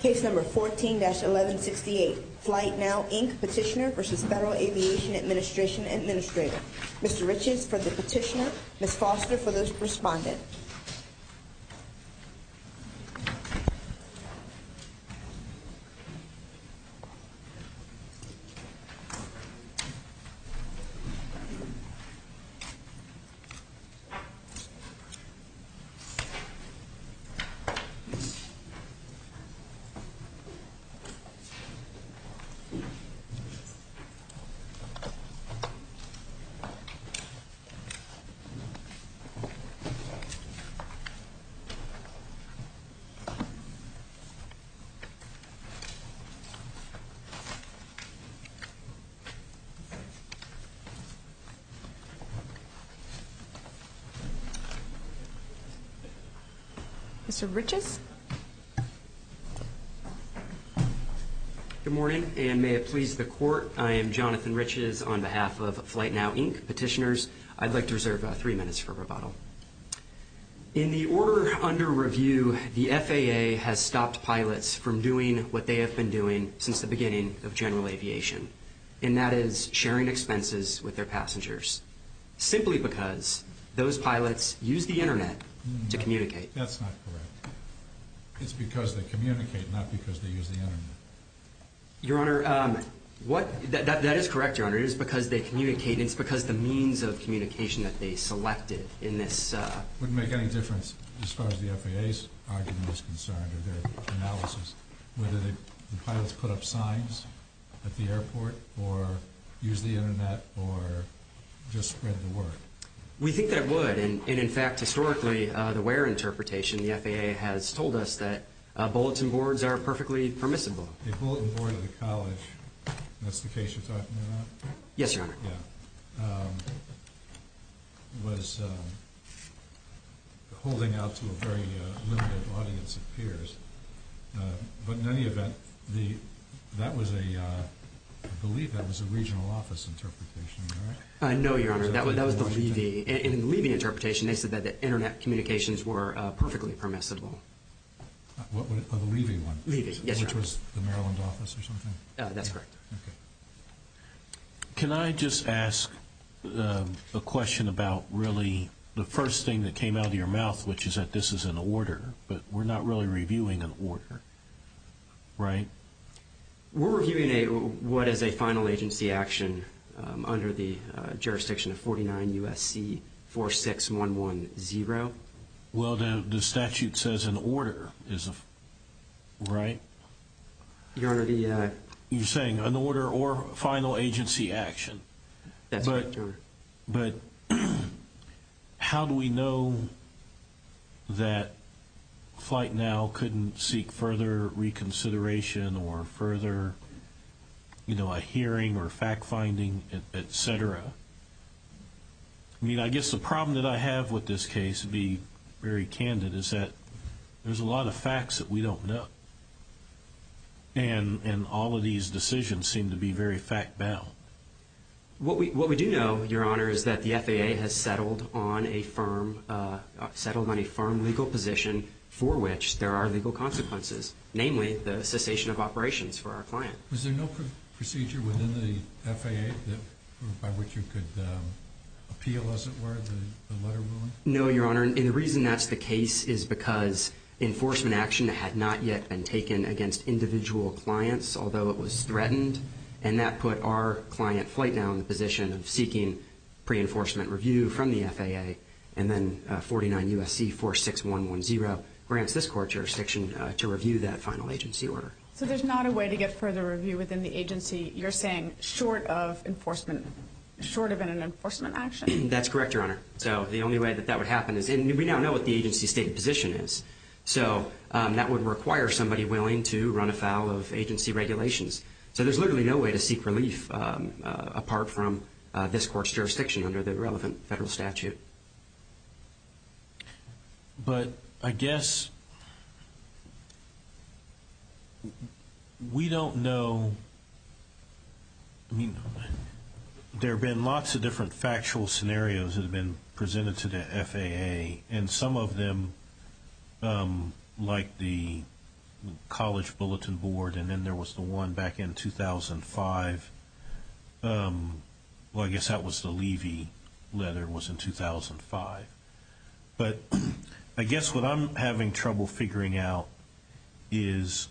Case No. 14-1168, Flytenow, Inc. Petitioner v. Federal Aviation Administration Administrator. Mr. Riches for the petitioner, Ms. Foster for the respondent. Mr. Riches? Good morning, and may it please the court. I am Jonathan Riches on behalf of Flytenow, Inc. Petitioners. I'd like to reserve three minutes for rebuttal. In the order under review, the FAA has stopped pilots from doing what they have been doing since the beginning of general aviation, and that is sharing expenses with their passengers, simply because those pilots use the Internet to communicate. That's not correct. It's because they communicate, not because they use the Internet. Your Honor, that is correct, Your Honor. It is because they communicate, and it's because the means of communication that they selected in this… It wouldn't make any difference, as far as the FAA's argument is concerned, or their analysis, whether the pilots put up signs at the airport, or use the Internet, or just spread the word. We think that it would, and in fact, historically, the WARE interpretation, the FAA has told us that bulletin boards are perfectly permissible. The bulletin board of the college, that's the case you're talking about? Yes, Your Honor. Yeah. Was holding out to a very limited audience of peers, but in any event, that was a… I believe that was a regional office interpretation, am I right? No, Your Honor, that was the Levy. In the Levy interpretation, they said that the Internet communications were perfectly permissible. The Levy one? Levy, yes, Your Honor. Which was the Maryland office or something? That's correct. Okay. Can I just ask a question about really the first thing that came out of your mouth, which is that this is an order, but we're not really reviewing an order, right? We're reviewing what is a final agency action under the jurisdiction of 49 U.S.C. 46110. Well, the statute says an order, right? Your Honor, the… You're saying an order or final agency action. That's right, Your Honor. But how do we know that FlightNow couldn't seek further reconsideration or further, you know, a hearing or fact-finding, et cetera? I mean, I guess the problem that I have with this case, to be very candid, is that there's a lot of facts that we don't know, and all of these decisions seem to be very fact-bound. What we do know, Your Honor, is that the FAA has settled on a firm legal position for which there are legal consequences, namely the cessation of operations for our client. Was there no procedure within the FAA by which you could appeal, as it were, the letter ruling? No, Your Honor, and the reason that's the case is because enforcement action had not yet been taken against individual clients, although it was threatened, and that put our client, FlightNow, in the position of seeking pre-enforcement review from the FAA, and then 49 U.S.C. 46110 grants this court jurisdiction to review that final agency order. So there's not a way to get further review within the agency, you're saying, short of enforcement, short of an enforcement action? That's correct, Your Honor. So the only way that that would happen is, and we now know what the agency's stated position is, so that would require somebody willing to run afoul of agency regulations. So there's literally no way to seek relief apart from this court's jurisdiction under the relevant federal statute. But I guess we don't know. There have been lots of different factual scenarios that have been presented to the FAA, and some of them, like the college bulletin board, and then there was the one back in 2005. Well, I guess that was the Levy letter was in 2005. But I guess what I'm having trouble figuring out is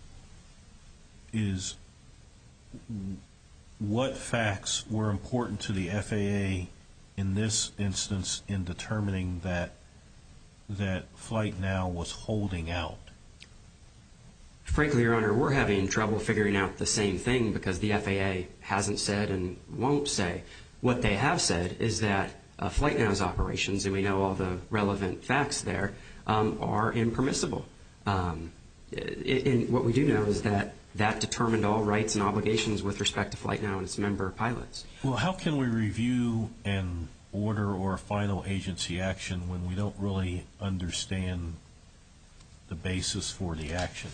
what facts were important to the FAA in this instance in determining that FlightNow was holding out. Frankly, Your Honor, we're having trouble figuring out the same thing because the FAA hasn't said and won't say. What they have said is that FlightNow's operations, and we know all the relevant facts there, are impermissible. And what we do know is that that determined all rights and obligations with respect to FlightNow and its member pilots. Well, how can we review an order or a final agency action when we don't really understand the basis for the action?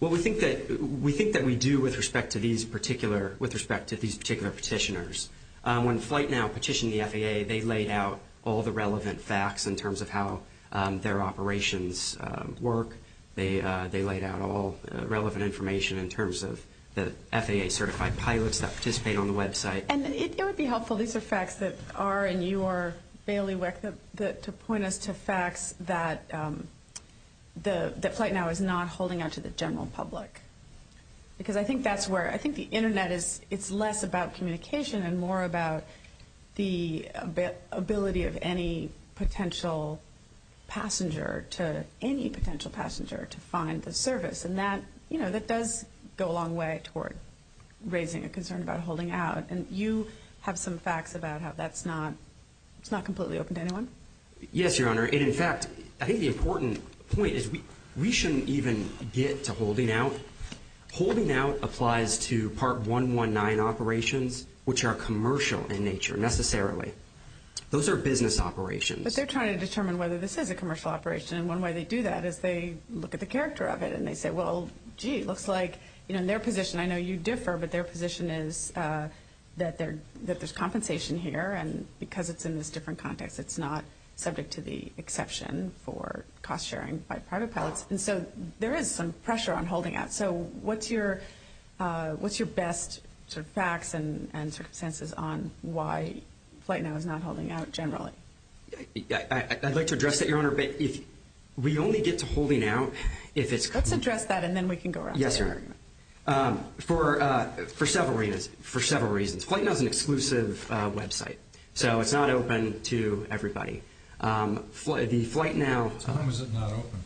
Well, we think that we do with respect to these particular petitioners. When FlightNow petitioned the FAA, they laid out all the relevant facts in terms of how their operations work. They laid out all relevant information in terms of the FAA-certified pilots that participate on the website. And it would be helpful, these are facts that are in your bailiwick, to point us to facts that FlightNow is not holding out to the general public. Because I think that's where, I think the Internet is, it's less about communication and more about the ability of any potential passenger to, any potential passenger to find the service. And that, you know, that does go a long way toward raising a concern about holding out. And you have some facts about how that's not, it's not completely open to anyone? Yes, Your Honor. And, in fact, I think the important point is we shouldn't even get to holding out. Holding out applies to Part 119 operations, which are commercial in nature, necessarily. Those are business operations. But they're trying to determine whether this is a commercial operation. And one way they do that is they look at the character of it and they say, well, gee, it looks like, you know, in their position, I know you differ, but their position is that there's compensation here. And because it's in this different context, it's not subject to the exception for cost sharing by private pilots. And so there is some pressure on holding out. So what's your, what's your best sort of facts and circumstances on why FlightNow is not holding out generally? I'd like to address that, Your Honor. But if we only get to holding out, if it's. Let's address that and then we can go around. Yes, Your Honor. For several reasons, for several reasons. FlightNow is an exclusive website. So it's not open to everybody. The FlightNow. To whom is it not open?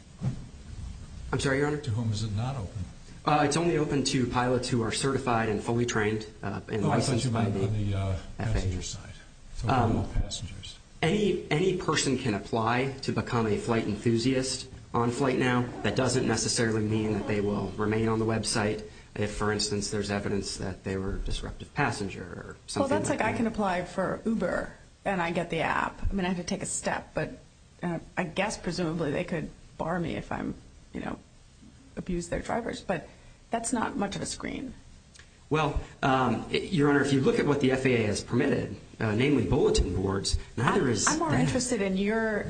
I'm sorry, Your Honor? To whom is it not open? It's only open to pilots who are certified and fully trained and licensed by the FAA. Oh, I thought you meant on the passenger side, for normal passengers. Any person can apply to become a flight enthusiast on FlightNow. That doesn't necessarily mean that they will remain on the website if, for instance, there's evidence that they were a disruptive passenger or something like that. Well, that's like I can apply for Uber and I get the app. I mean, I have to take a step. But I guess presumably they could bar me if I'm, you know, abuse their drivers. But that's not much of a screen. Well, Your Honor, if you look at what the FAA has permitted, namely bulletin boards, neither is. I'm more interested in your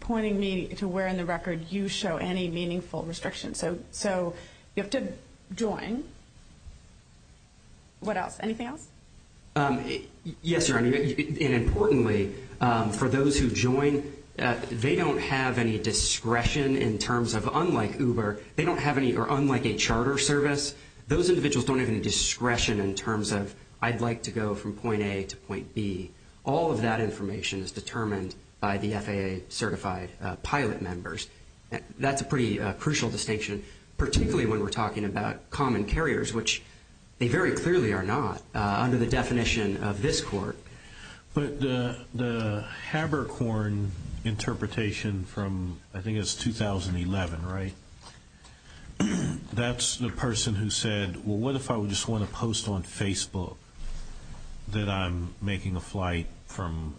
pointing me to where in the record you show any meaningful restrictions. So you have to join. What else? Anything else? Yes, Your Honor. And importantly, for those who join, they don't have any discretion in terms of unlike Uber, they don't have any or unlike a charter service, those individuals don't have any discretion in terms of I'd like to go from point A to point B. All of that information is determined by the FAA certified pilot members. That's a pretty crucial distinction, particularly when we're talking about common carriers, which they very clearly are not under the definition of this court. But the Haberkorn interpretation from I think it's 2011, right, that's the person who said, well, what if I just want to post on Facebook that I'm making a flight from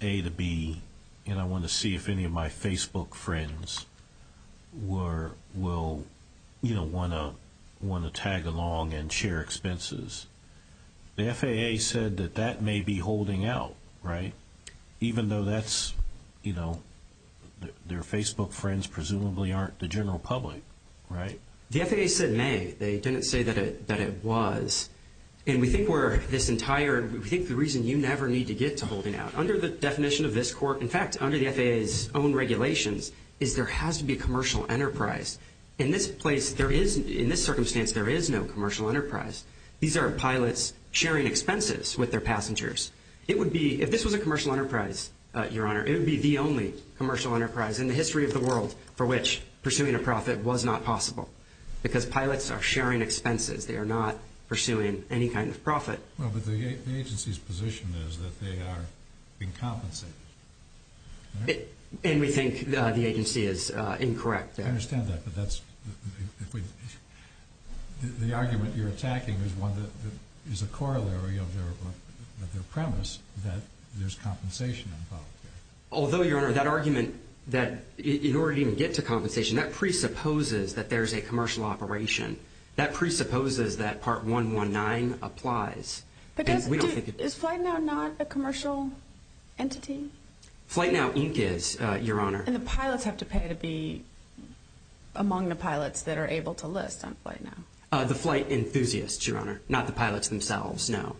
A to B and I want to see if any of my Facebook friends will, you know, want to tag along and share expenses. The FAA said that that may be holding out, right, even though that's, you know, their Facebook friends presumably aren't the general public, right? The FAA said may. They didn't say that it was. And we think we're this entire, we think the reason you never need to get to holding out. Under the definition of this court, in fact, under the FAA's own regulations, is there has to be a commercial enterprise. In this place, there is, in this circumstance, there is no commercial enterprise. These are pilots sharing expenses with their passengers. It would be, if this was a commercial enterprise, Your Honor, it would be the only commercial enterprise in the history of the world for which pursuing a profit was not possible because pilots are sharing expenses. They are not pursuing any kind of profit. Well, but the agency's position is that they are being compensated. And we think the agency is incorrect. I understand that, but that's, if we, the argument you're attacking is one that is a corollary of their premise that there's compensation involved there. Although, Your Honor, that argument that in order to even get to compensation, that presupposes that there's a commercial operation. That presupposes that Part 119 applies. But does, is FlightNow not a commercial entity? FlightNow Inc. is, Your Honor. And the pilots have to pay to be among the pilots that are able to list on FlightNow? The flight enthusiasts, Your Honor, not the pilots themselves, no.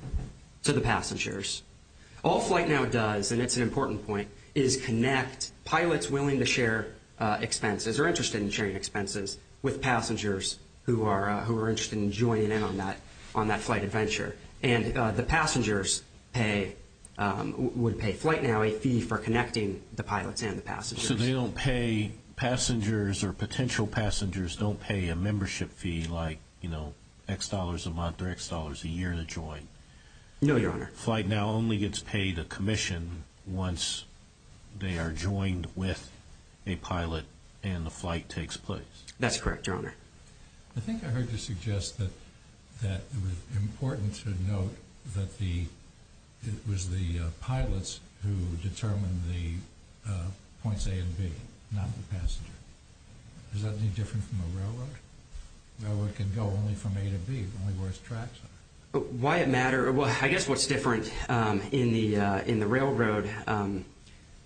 So the passengers. All FlightNow does, and it's an important point, is connect pilots willing to share expenses or interested in sharing expenses with passengers who are interested in joining in on that flight adventure. And the passengers pay, would pay FlightNow a fee for connecting the pilots and the passengers. So they don't pay passengers or potential passengers don't pay a membership fee like, you know, X dollars a month or X dollars a year to join? No, Your Honor. FlightNow only gets paid a commission once they are joined with a pilot and the flight takes place. That's correct, Your Honor. I think I heard you suggest that it was important to note that the, it was the pilots who determined the points A and B, not the passenger. Is that any different from a railroad? A railroad can go only from A to B, only where its tracks are. Why it matters, well, I guess what's different in the railroad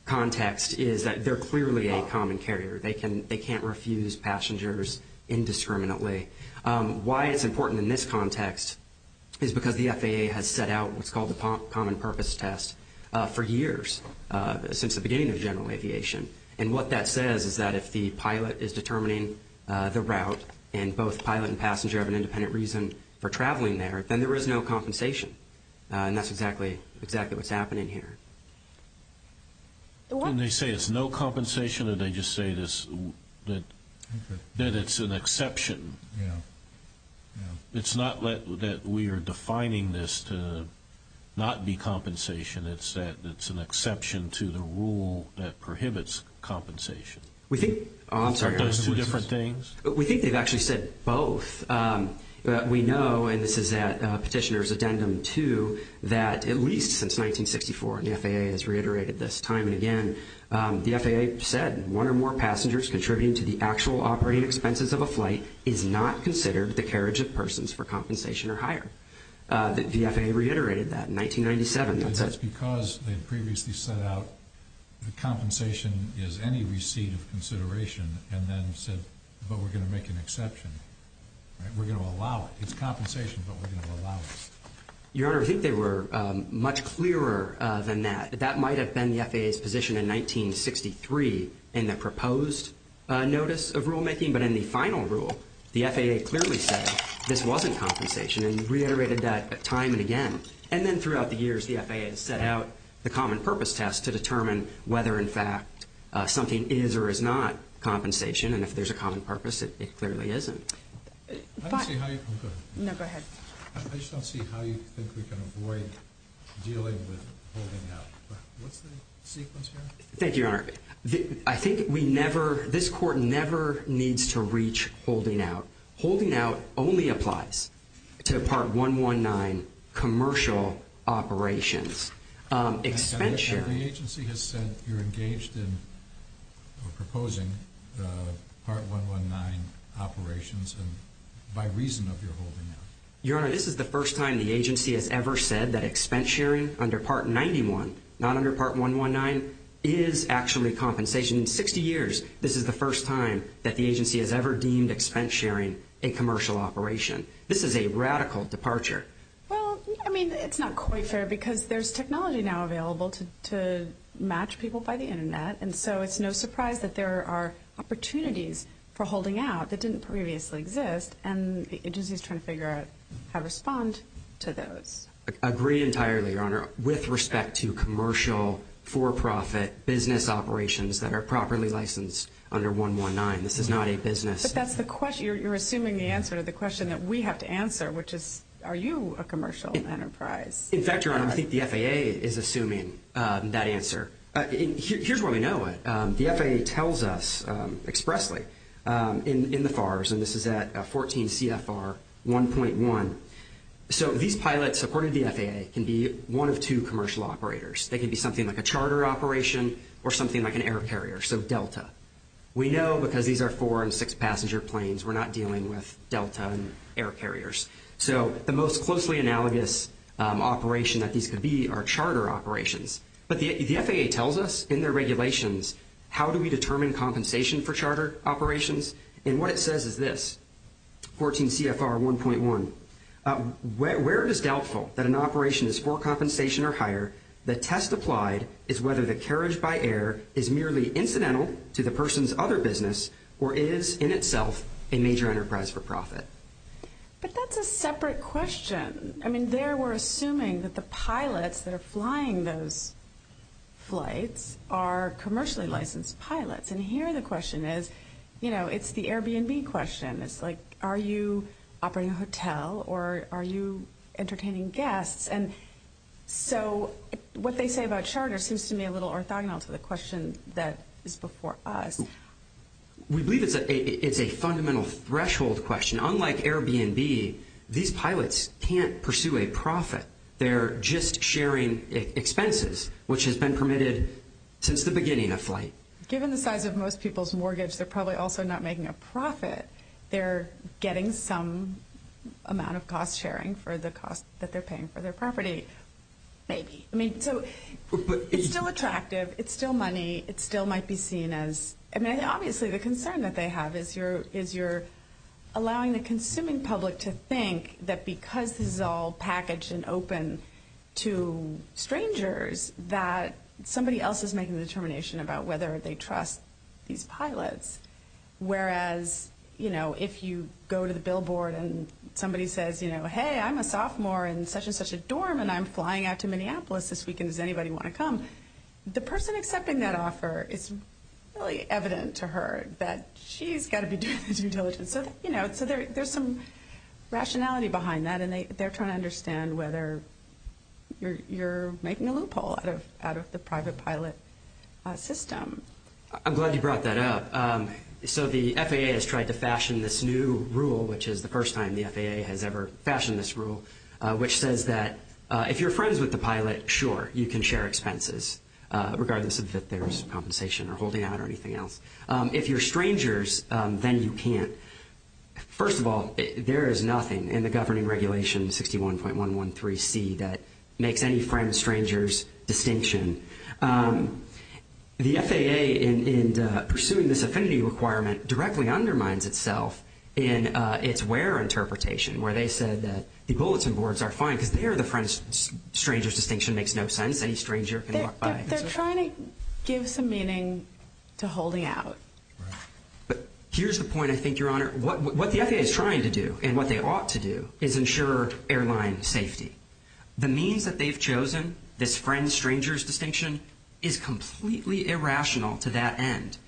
context is that they're clearly a common carrier. They can't refuse passengers indiscriminately. Why it's important in this context is because the FAA has set out what's called the common purpose test for years, since the beginning of general aviation. And what that says is that if the pilot is determining the route, and both pilot and passenger have an independent reason for traveling there, then there is no compensation. And that's exactly what's happening here. Didn't they say it's no compensation or did they just say that it's an exception? Yeah. It's not that we are defining this to not be compensation. It's that it's an exception to the rule that prohibits compensation. I'm sorry, Your Honor. Those two different things? We think they've actually said both. We know, and this is at Petitioner's Addendum 2, that at least since 1964, and the FAA has reiterated this time and again, the FAA said one or more passengers contributing to the actual operating expenses of a flight is not considered the carriage of persons for compensation or hire. The FAA reiterated that in 1997. It's because they had previously set out that compensation is any receipt of consideration and then said, but we're going to make an exception. We're going to allow it. It's compensation, but we're going to allow it. Your Honor, I think they were much clearer than that. That might have been the FAA's position in 1963 in the proposed notice of rulemaking, but in the final rule, the FAA clearly said this wasn't compensation and reiterated that time and again. And then throughout the years, the FAA has set out the common purpose test to determine whether in fact something is or is not compensation, and if there's a common purpose, it clearly isn't. I just don't see how you think we can avoid dealing with holding out. What's the sequence here? Thank you, Your Honor. I think this Court never needs to reach holding out. Holding out only applies to Part 119 commercial operations. The agency has said you're engaged in or proposing Part 119 operations by reason of your holding out. Your Honor, this is the first time the agency has ever said that expense sharing under Part 91, not under Part 119, is actually compensation. In 60 years, this is the first time that the agency has ever deemed expense sharing a commercial operation. This is a radical departure. Well, I mean, it's not quite fair because there's technology now available to match people by the Internet, and so it's no surprise that there are opportunities for holding out that didn't previously exist, and the agency is trying to figure out how to respond to those. I agree entirely, Your Honor, with respect to commercial for-profit business operations that are properly licensed under 119. This is not a business. But that's the question. You're assuming the answer to the question that we have to answer, which is, are you a commercial enterprise? In fact, Your Honor, I think the FAA is assuming that answer. Here's where we know it. The FAA tells us expressly in the FARS, and this is at 14 CFR 1.1. So these pilots, according to the FAA, can be one of two commercial operators. They can be something like a charter operation or something like an air carrier, so Delta. We know because these are four- and six-passenger planes, we're not dealing with Delta and air carriers. So the most closely analogous operation that these could be are charter operations. But the FAA tells us in their regulations how do we determine compensation for charter operations, and what it says is this, 14 CFR 1.1. Where it is doubtful that an operation is for compensation or higher, the test applied is whether the carriage by air is merely incidental to the person's other business or is in itself a major enterprise for profit. But that's a separate question. I mean, there we're assuming that the pilots that are flying those flights are commercially licensed pilots. And here the question is, you know, it's the Airbnb question. It's like, are you operating a hotel or are you entertaining guests? And so what they say about charter seems to me a little orthogonal to the question that is before us. We believe it's a fundamental threshold question. Unlike Airbnb, these pilots can't pursue a profit. They're just sharing expenses, which has been permitted since the beginning of flight. Given the size of most people's mortgage, they're probably also not making a profit. They're getting some amount of cost sharing for the cost that they're paying for their property, maybe. I mean, so it's still attractive. It's still money. It still might be seen as, I mean, obviously the concern that they have is you're allowing the consuming public to think that because this is all packaged and open to strangers, that somebody else is making the determination about whether they trust these pilots. Whereas, you know, if you go to the billboard and somebody says, you know, hey, I'm a sophomore in such and such a dorm and I'm flying out to Minneapolis this weekend, does anybody want to come? The person accepting that offer is really evident to her that she's got to be doing the due diligence. And so, you know, there's some rationality behind that, and they're trying to understand whether you're making a loophole out of the private pilot system. I'm glad you brought that up. So the FAA has tried to fashion this new rule, which is the first time the FAA has ever fashioned this rule, which says that if you're friends with the pilot, sure, you can share expenses, regardless of if there's compensation or holding out or anything else. If you're strangers, then you can't. First of all, there is nothing in the governing regulation 61.113C that makes any friend stranger's distinction. The FAA, in pursuing this affinity requirement, directly undermines itself in its where interpretation, where they said that the bulletin boards are fine because they are the friend stranger's distinction. It makes no sense. Any stranger can walk by. They're trying to give some meaning to holding out. But here's the point, I think, Your Honor. What the FAA is trying to do and what they ought to do is ensure airline safety. The means that they've chosen, this friend stranger's distinction, is completely irrational to that end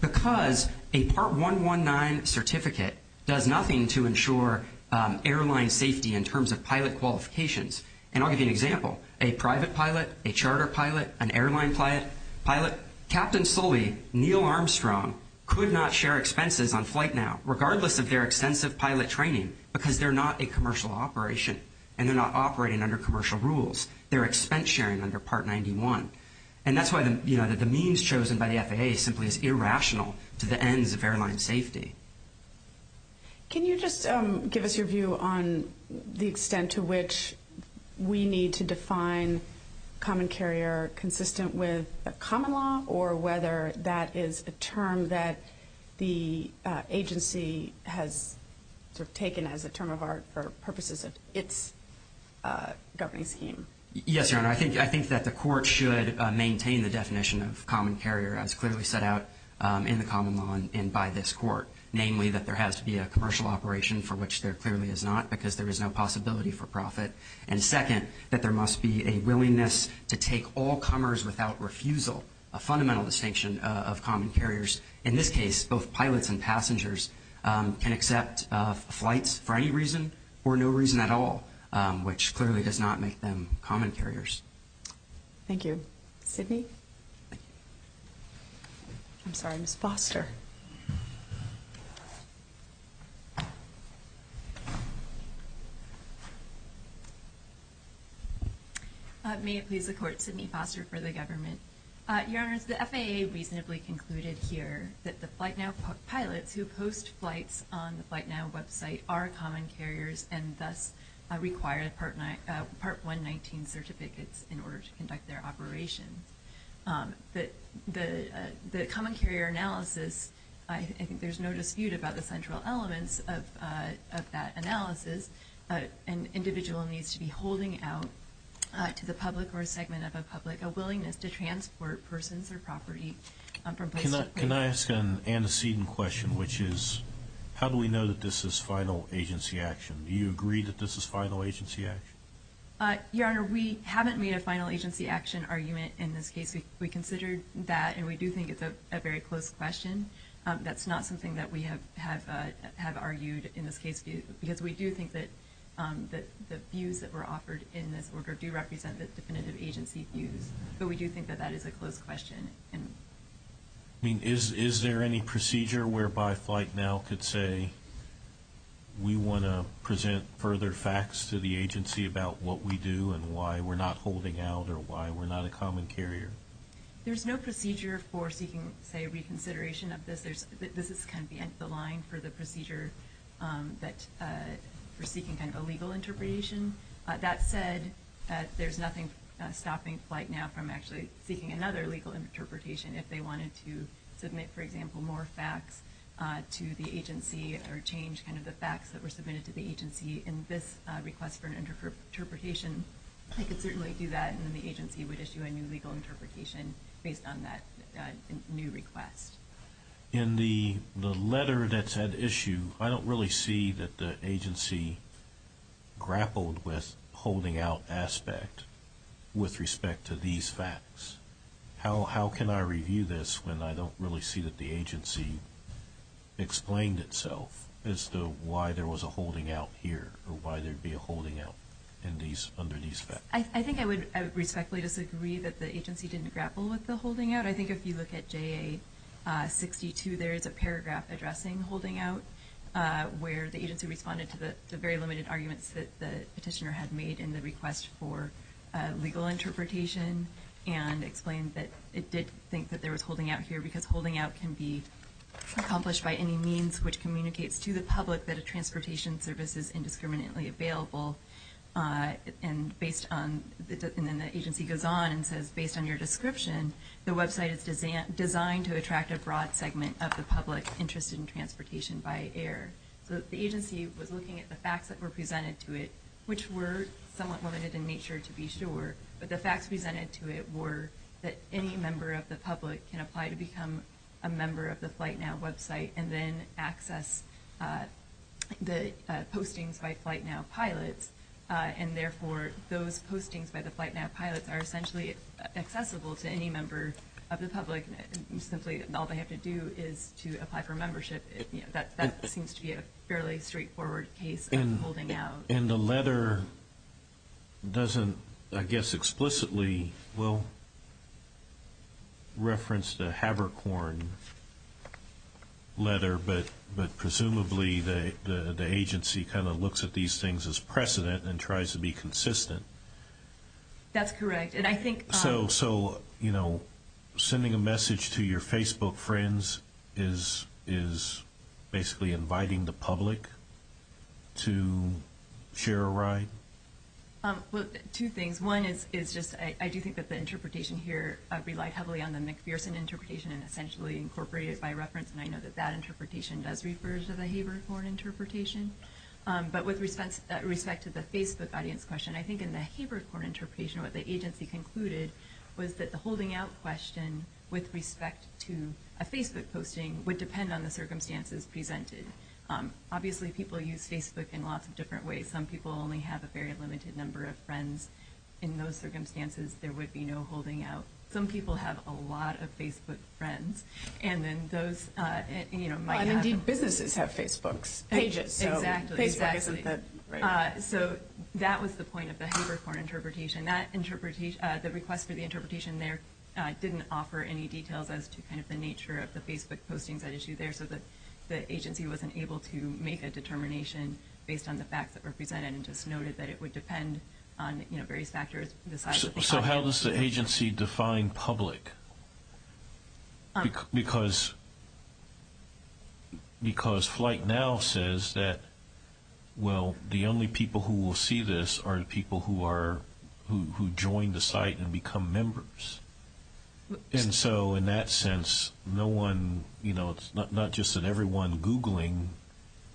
because a Part 119 certificate does nothing to ensure airline safety in terms of pilot qualifications. And I'll give you an example. A private pilot, a charter pilot, an airline pilot, Captain Sully, Neil Armstrong, could not share expenses on flight now, regardless of their extensive pilot training, because they're not a commercial operation and they're not operating under commercial rules. They're expense sharing under Part 91. And that's why the means chosen by the FAA simply is irrational to the ends of airline safety. Can you just give us your view on the extent to which we need to define common carrier consistent with a common law or whether that is a term that the agency has taken as a term of art for purposes of its governing scheme? Yes, Your Honor. I think that the court should maintain the definition of common carrier as clearly set out in the common law and by this court, namely that there has to be a commercial operation for which there clearly is not because there is no possibility for profit. And second, that there must be a willingness to take all comers without refusal, a fundamental distinction of common carriers. In this case, both pilots and passengers can accept flights for any reason or no reason at all, which clearly does not make them common carriers. Thank you. Sidney? I'm sorry, Ms. Foster. May it please the court, Sidney Foster for the government. Your Honor, the FAA reasonably concluded here that the FlightNow pilots who post flights on the FlightNow website are common carriers and thus require Part 119 certificates in order to conduct their operations. The common carrier analysis, I think there's no dispute about the central elements of that analysis. An individual needs to be holding out to the public or a segment of a public a willingness to transport persons or property from place to place. Can I ask an antecedent question, which is how do we know that this is final agency action? Do you agree that this is final agency action? Your Honor, we haven't made a final agency action argument in this case. We considered that, and we do think it's a very close question. That's not something that we have argued in this case, because we do think that the views that were offered in this order do represent the definitive agency views. But we do think that that is a close question. I mean, is there any procedure whereby FlightNow could say we want to present further facts to the agency about what we do and why we're not holding out or why we're not a common carrier? There's no procedure for seeking, say, reconsideration of this. This is kind of the end of the line for the procedure that we're seeking kind of a legal interpretation. That said, there's nothing stopping FlightNow from actually seeking another legal interpretation if they wanted to submit, for example, more facts to the agency or change kind of the facts that were submitted to the agency in this request for an interpretation. They could certainly do that, and then the agency would issue a new legal interpretation based on that new request. In the letter that's at issue, I don't really see that the agency grappled with holding out aspect with respect to these facts. How can I review this when I don't really see that the agency explained itself as to why there was a holding out here or why there'd be a holding out under these facts? I think I would respectfully disagree that the agency didn't grapple with the holding out. But I think if you look at JA62, there is a paragraph addressing holding out where the agency responded to the very limited arguments that the petitioner had made in the request for legal interpretation and explained that it did think that there was holding out here because holding out can be accomplished by any means which communicates to the public that a transportation service is indiscriminately available. And then the agency goes on and says, based on your description, the website is designed to attract a broad segment of the public interested in transportation by air. So the agency was looking at the facts that were presented to it, which were somewhat limited in nature to be sure, but the facts presented to it were that any member of the public can apply to become a member of the FlightNow website and then access the postings by FlightNow pilots, and therefore those postings by the FlightNow pilots are essentially accessible to any member of the public. Simply all they have to do is to apply for membership. That seems to be a fairly straightforward case of holding out. And the letter doesn't, I guess, explicitly, well, reference the Habercorn letter, but presumably the agency kind of looks at these things as precedent and tries to be consistent. That's correct. So, you know, sending a message to your Facebook friends is basically inviting the public to share a ride? Well, two things. One is just I do think that the interpretation here relied heavily on the McPherson interpretation and essentially incorporated it by reference, and I know that that interpretation does refer to the Habercorn interpretation. But with respect to the Facebook audience question, I think in the Habercorn interpretation, what the agency concluded was that the holding out question with respect to a Facebook posting would depend on the circumstances presented. Obviously, people use Facebook in lots of different ways. Some people only have a very limited number of friends. In those circumstances, there would be no holding out. Some people have a lot of Facebook friends, and then those, you know, might have a- Exactly. So that was the point of the Habercorn interpretation. The request for the interpretation there didn't offer any details as to kind of the nature of the Facebook postings at issue there, so the agency wasn't able to make a determination based on the facts that were presented and just noted that it would depend on, you know, various factors. So how does the agency define public? Because FlightNow says that, well, the only people who will see this are the people who join the site and become members. And so in that sense, no one, you know, it's not just that everyone Googling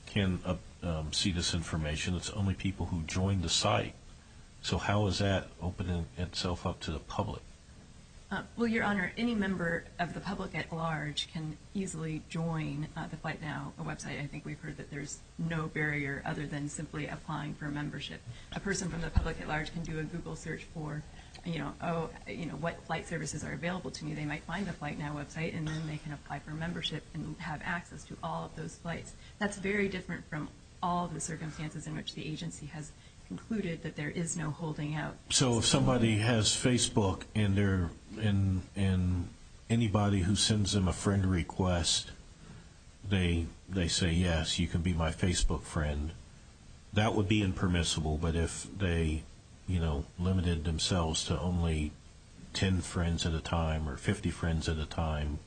can see this information. It's only people who join the site. So how is that opening itself up to the public? Well, Your Honor, any member of the public at large can easily join the FlightNow website. I think we've heard that there's no barrier other than simply applying for membership. A person from the public at large can do a Google search for, you know, what flight services are available to me. They might find the FlightNow website, and then they can apply for membership and have access to all of those flights. That's very different from all the circumstances in which the agency has concluded that there is no holding out. So if somebody has Facebook and anybody who sends them a friend request, they say, yes, you can be my Facebook friend. That would be impermissible. But if they, you know, limited themselves to only 10 friends at a time or 50 friends at a time,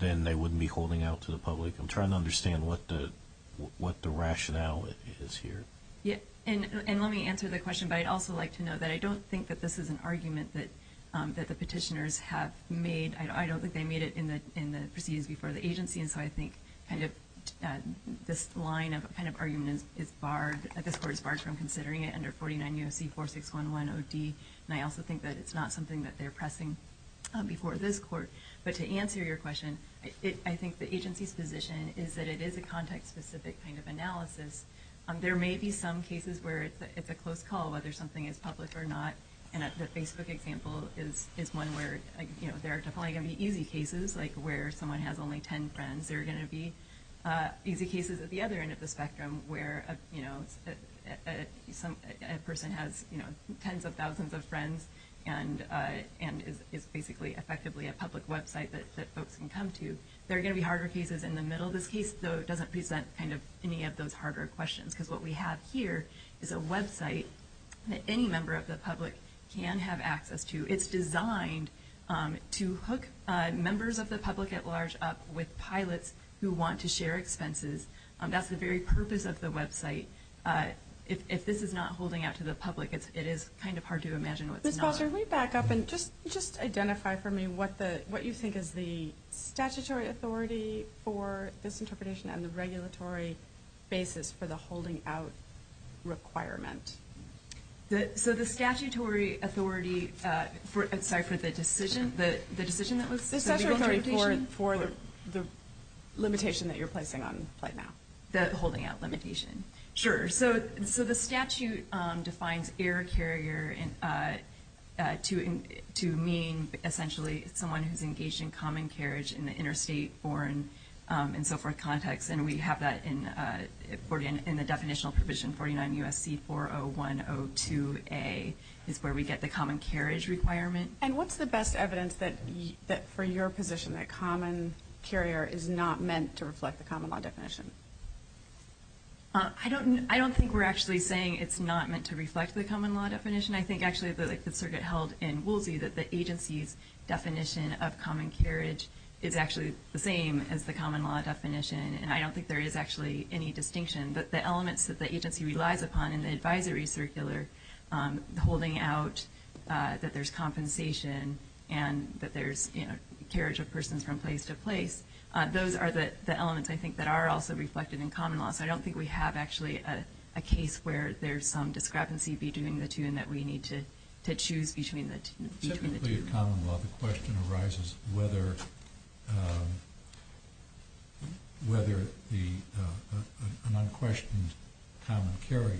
then they wouldn't be holding out to the public. I'm trying to understand what the rationale is here. Yeah, and let me answer the question. But I'd also like to know that I don't think that this is an argument that the petitioners have made. I don't think they made it in the proceedings before the agency. And so I think kind of this line of kind of argument is barred. This court is barred from considering it under 49 U.S.C. 46110D. And I also think that it's not something that they're pressing before this court. But to answer your question, I think the agency's position is that it is a context-specific kind of analysis. There may be some cases where it's a close call, whether something is public or not. And the Facebook example is one where, you know, there are definitely going to be easy cases, like where someone has only 10 friends. There are going to be easy cases at the other end of the spectrum where, you know, a person has tens of thousands of friends and is basically effectively a public website that folks can come to. There are going to be harder cases in the middle of this case, though it doesn't present kind of any of those harder questions, because what we have here is a website that any member of the public can have access to. It's designed to hook members of the public at large up with pilots who want to share expenses. That's the very purpose of the website. If this is not holding out to the public, it is kind of hard to imagine what's not. Can we back up and just identify for me what you think is the statutory authority for this interpretation and the regulatory basis for the holding out requirement? So the statutory authority for the decision that was said? The statutory authority for the limitation that you're placing on flight now, the holding out limitation. Sure. So the statute defines air carrier to mean, essentially, someone who's engaged in common carriage in the interstate, foreign, and so forth context, and we have that in the definitional provision 49 U.S.C. 40102A is where we get the common carriage requirement. And what's the best evidence that, for your position, that common carrier is not meant to reflect the common law definition? I don't think we're actually saying it's not meant to reflect the common law definition. I think, actually, like the circuit held in Woolsey, that the agency's definition of common carriage is actually the same as the common law definition, and I don't think there is actually any distinction. But the elements that the agency relies upon in the advisory circular, holding out that there's compensation and that there's carriage of persons from place to place, those are the elements, I think, that are also reflected in common law. So I don't think we have, actually, a case where there's some discrepancy between the two and that we need to choose between the two. Specifically in common law, the question arises whether an unquestioned common carrier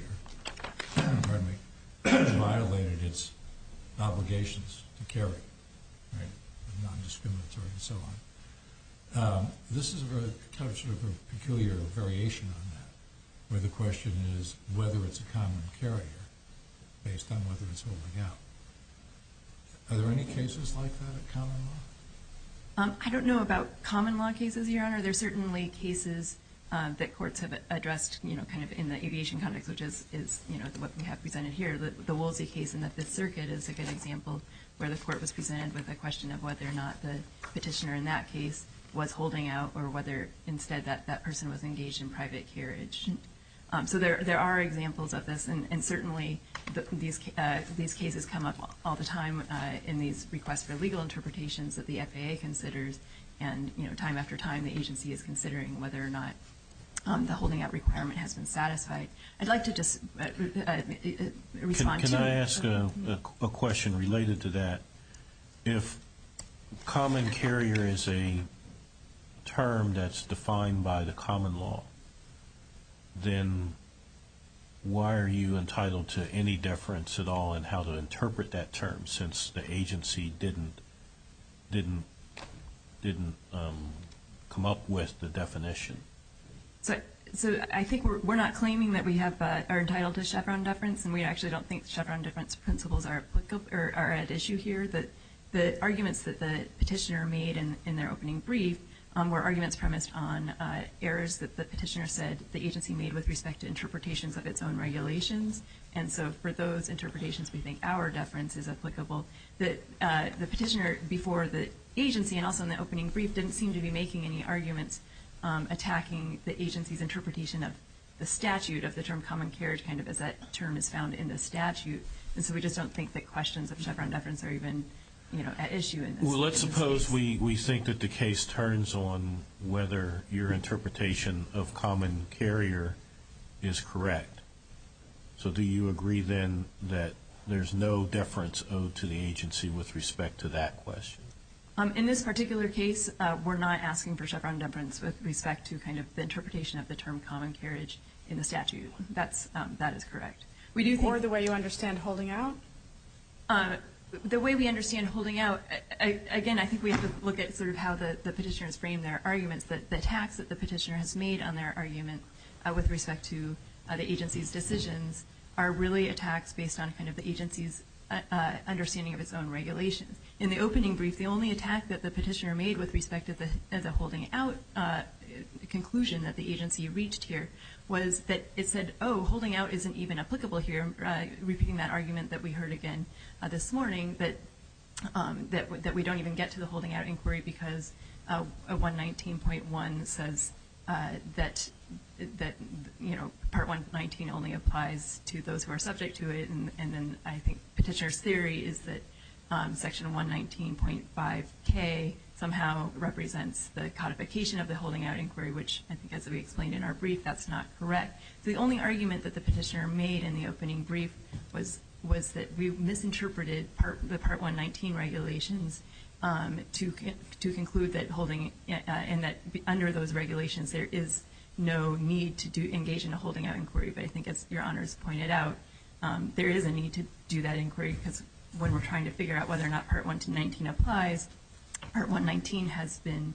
violated its obligations to carry, non-discriminatory and so on. This is a peculiar variation on that, where the question is whether it's a common carrier based on whether it's holding out. Are there any cases like that in common law? I don't know about common law cases, Your Honor. There are certainly cases that courts have addressed in the aviation context, which is what we have presented here, the Woolsey case, and that the circuit is a good example where the court was presented with a question of whether or not the petitioner in that case was holding out or whether, instead, that person was engaged in private carriage. So there are examples of this, and certainly these cases come up all the time in these requests for legal interpretations that the FAA considers, and time after time the agency is considering whether or not the holding out requirement has been satisfied. I'd like to just respond to that. Can I ask a question related to that? If common carrier is a term that's defined by the common law, then why are you entitled to any deference at all in how to interpret that term since the agency didn't come up with the definition? I think we're not claiming that we are entitled to Chevron deference, and we actually don't think Chevron deference principles are at issue here. The arguments that the petitioner made in their opening brief were arguments premised on errors that the petitioner said the agency made with respect to interpretations of its own regulations, and so for those interpretations we think our deference is applicable. The petitioner before the agency and also in the opening brief didn't seem to be making any arguments attacking the agency's interpretation of the statute of the term common carrier kind of as that term is found in the statute, and so we just don't think that questions of Chevron deference are even at issue. Well, let's suppose we think that the case turns on whether your interpretation of common carrier is correct. So do you agree then that there's no deference owed to the agency with respect to that question? In this particular case, we're not asking for Chevron deference with respect to kind of the interpretation of the term common carriage in the statute. That is correct. Or the way you understand holding out? The way we understand holding out, again, I think we have to look at sort of how the petitioners frame their arguments. The attacks that the petitioner has made on their argument with respect to the agency's decisions are really attacks based on kind of the agency's understanding of its own regulations. In the opening brief, the only attack that the petitioner made with respect to the holding out conclusion that the agency reached here was that it said, oh, holding out isn't even applicable here, repeating that argument that we heard again this morning, that we don't even get to the holding out inquiry because 119.1 says that Part 119 only applies to those who are subject to it, and then I think petitioner's theory is that Section 119.5K somehow represents the codification of the holding out inquiry, which I think as we explained in our brief, that's not correct. The only argument that the petitioner made in the opening brief was that we misinterpreted the Part 119 regulations to conclude that holding out and that under those regulations there is no need to engage in a holding out inquiry. But I think as Your Honors pointed out, there is a need to do that inquiry because when we're trying to figure out whether or not Part 119 applies, Part 119 has been,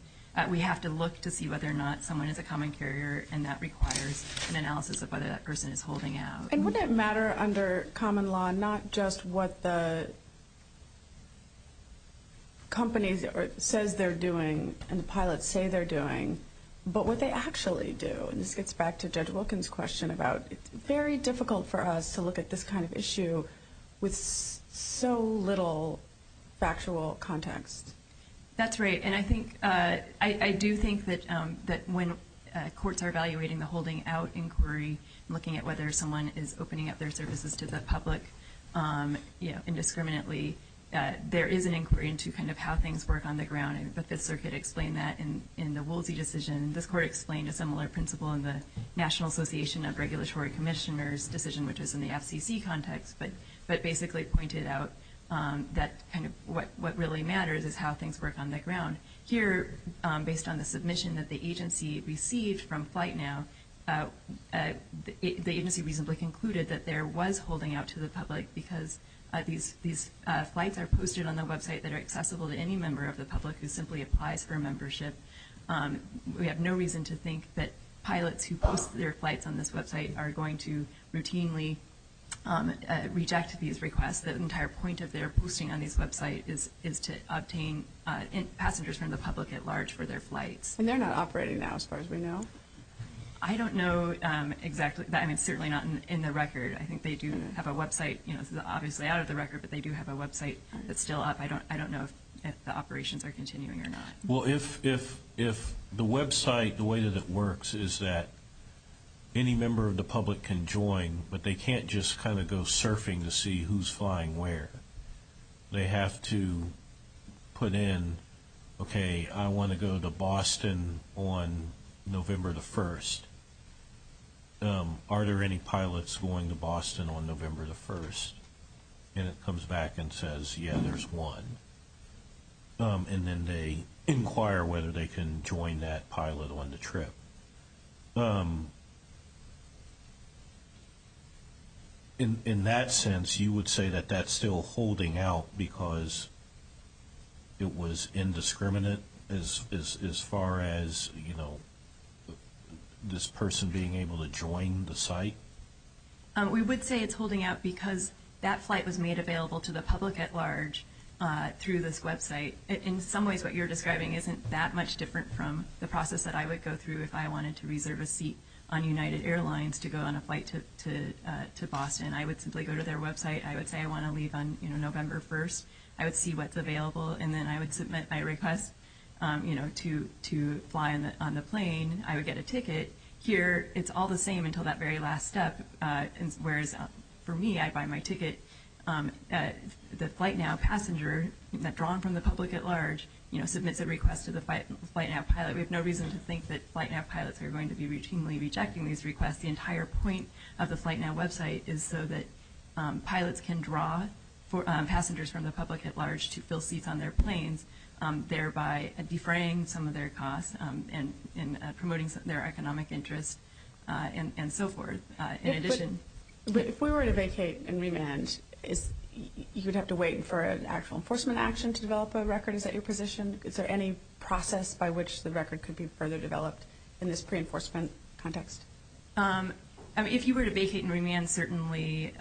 we have to look to see whether or not someone is a common carrier and that requires an analysis of whether that person is holding out. And wouldn't it matter under common law not just what the companies says they're doing and the pilots say they're doing, but what they actually do? And this gets back to Judge Wilkins' question about it's very difficult for us to look at this kind of issue with so little factual context. That's right. And I do think that when courts are evaluating the holding out inquiry, looking at whether someone is opening up their services to the public indiscriminately, there is an inquiry into kind of how things work on the ground, and the Fifth Circuit explained that in the Woolsey decision. This court explained a similar principle in the National Association of Regulatory Commissioners decision, which is in the FCC context, but basically pointed out that kind of what really matters is how things work on the ground. Here, based on the submission that the agency received from FlightNow, the agency reasonably concluded that there was holding out to the public because these flights are posted on the website that are accessible to any member of the public who simply applies for a membership. We have no reason to think that pilots who post their flights on this website are going to routinely reject these requests. The entire point of their posting on this website is to obtain passengers from the public at large for their flights. And they're not operating now, as far as we know? I don't know exactly. I mean, certainly not in the record. I think they do have a website. This is obviously out of the record, but they do have a website that's still up. I don't know if the operations are continuing or not. Well, if the website, the way that it works, is that any member of the public can join, but they can't just kind of go surfing to see who's flying where. They have to put in, okay, I want to go to Boston on November the 1st. Are there any pilots going to Boston on November the 1st? And it comes back and says, yeah, there's one. And then they inquire whether they can join that pilot on the trip. In that sense, you would say that that's still holding out because it was indiscriminate as far as, you know, this person being able to join the site? We would say it's holding out because that flight was made available to the public at large through this website. In some ways, what you're describing isn't that much different from the process that I would go through if I wanted to reserve a seat on United Airlines to go on a flight to Boston. I would simply go to their website. I would say I want to leave on November 1st. I would see what's available, and then I would submit my request to fly on the plane. I would get a ticket. Here, it's all the same until that very last step, whereas for me, I buy my ticket. The FlightNow passenger drawn from the public at large, you know, submits a request to the FlightNow pilot. We have no reason to think that FlightNow pilots are going to be routinely rejecting these requests. The entire point of the FlightNow website is so that pilots can draw passengers from the public at large to fill seats on their planes, thereby defraying some of their costs and promoting their economic interests and so forth. If we were to vacate and remand, you would have to wait for an actual enforcement action to develop a record? Is that your position? Is there any process by which the record could be further developed in this pre-enforcement context? If you were to vacate and remand, certainly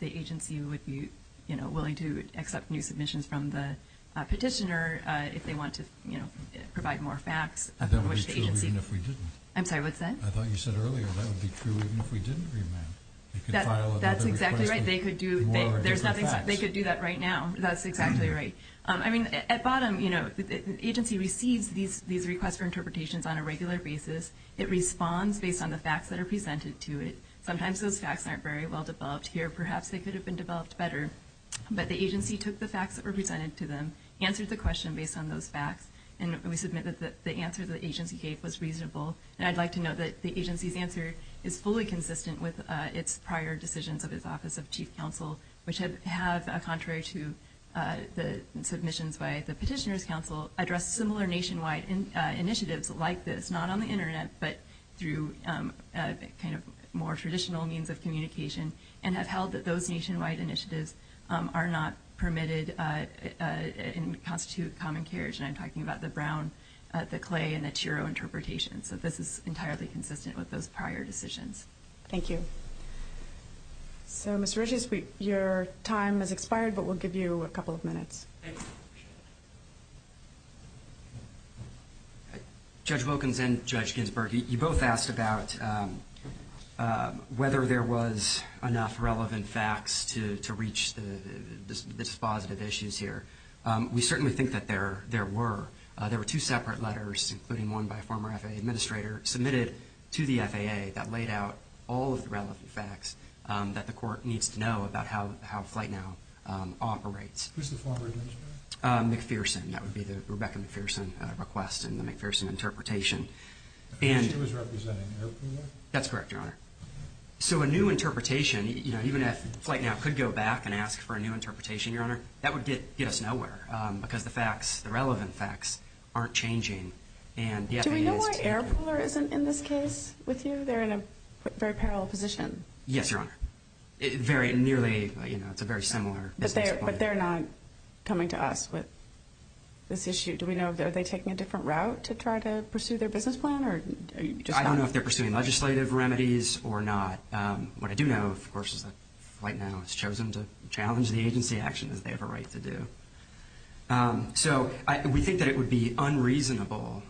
the agency would be willing to accept new submissions from the petitioner if they want to provide more facts. That would be true even if we didn't. I'm sorry, what's that? I thought you said earlier that would be true even if we didn't remand. That's exactly right. They could do that right now. That's exactly right. I mean, at bottom, the agency receives these requests for interpretations on a regular basis. It responds based on the facts that are presented to it. Sometimes those facts aren't very well-developed here. Perhaps they could have been developed better. But the agency took the facts that were presented to them, answered the question based on those facts, and we submit that the answer the agency gave was reasonable. And I'd like to note that the agency's answer is fully consistent with its prior decisions of its Office of Chief Counsel, which have, contrary to the submissions by the Petitioner's Counsel, addressed similar nationwide initiatives like this, not on the Internet, but through kind of more traditional means of communication, and have held that those nationwide initiatives are not permitted and constitute common carriage. And I'm talking about the Brown, the Clay, and the Chiro interpretations. So this is entirely consistent with those prior decisions. Thank you. So, Mr. Riches, your time has expired, but we'll give you a couple of minutes. Thank you. Thank you. Judge Wilkins and Judge Ginsburg, you both asked about whether there was enough relevant facts to reach the dispositive issues here. We certainly think that there were. There were two separate letters, including one by a former FAA administrator, submitted to the FAA that laid out all of the relevant facts that the court needs to know about how FlightNow operates. Who's the former administrator? McPherson. That would be the Rebecca McPherson request in the McPherson interpretation. She was representing AirPooler? That's correct, Your Honor. So a new interpretation, even if FlightNow could go back and ask for a new interpretation, Your Honor, that would get us nowhere because the facts, the relevant facts, aren't changing. Do we know why AirPooler isn't in this case with you? They're in a very parallel position. Yes, Your Honor. It's a very similar business plan. But they're not coming to us with this issue. Do we know, are they taking a different route to try to pursue their business plan? I don't know if they're pursuing legislative remedies or not. What I do know, of course, is that FlightNow has chosen to challenge the agency actions they have a right to do. So we think that it would be unreasonable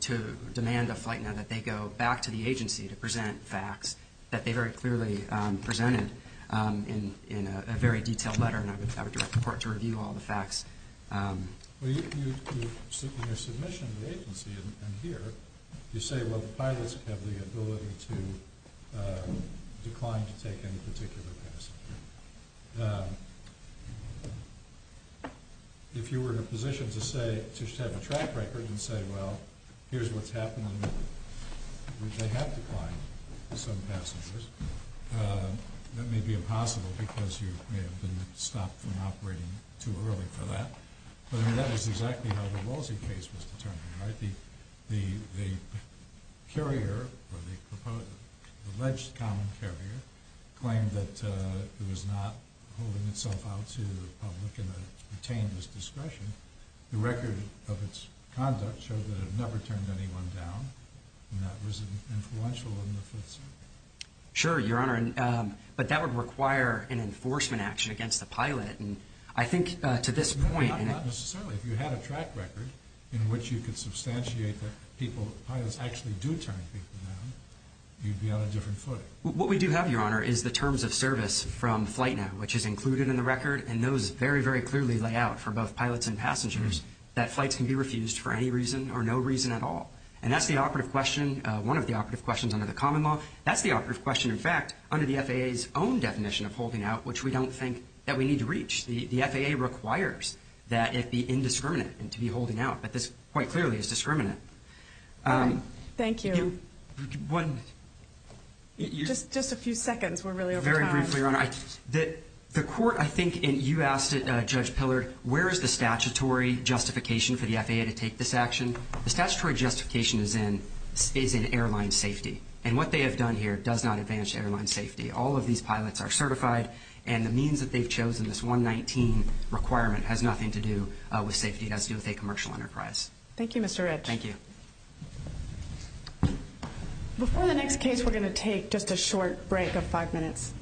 to demand of FlightNow that they go back to the agency to present facts that they very clearly presented in a very detailed letter, and I would report to review all the facts. Well, in your submission to the agency and here, you say, well, the pilots have the ability to decline to take any particular passenger. If you were in a position to say, to have a track record and say, well, here's what's happening, they have declined some passengers. That may be impossible because you may have been stopped from operating too early for that. But that is exactly how the Walsey case was determined, right? The carrier, or the alleged common carrier, claimed that it was not holding itself out to the public and it retained its discretion. The record of its conduct showed that it never turned anyone down, and that was influential in the Fifth Circuit. Sure, Your Honor, but that would require an enforcement action against the pilot, and I think to this point— No, not necessarily. If you had a track record in which you could substantiate that pilots actually do turn people down, you'd be on a different foot. What we do have, Your Honor, is the terms of service from FlightNow, which is included in the record, and those very, very clearly lay out for both pilots and passengers that flights can be refused for any reason or no reason at all. And that's the operative question, one of the operative questions under the common law. That's the operative question, in fact, under the FAA's own definition of holding out, which we don't think that we need to reach. The FAA requires that it be indiscriminate and to be holding out, but this quite clearly is discriminant. Thank you. Just a few seconds. We're really over time. Just briefly, Your Honor, the court, I think, and you asked it, Judge Pillard, where is the statutory justification for the FAA to take this action? The statutory justification is in airline safety, and what they have done here does not advance airline safety. All of these pilots are certified, and the means that they've chosen, this 119 requirement, has nothing to do with safety. It has to do with a commercial enterprise. Thank you, Mr. Rich. Thank you. Before the next case, we're going to take just a short break of five minutes.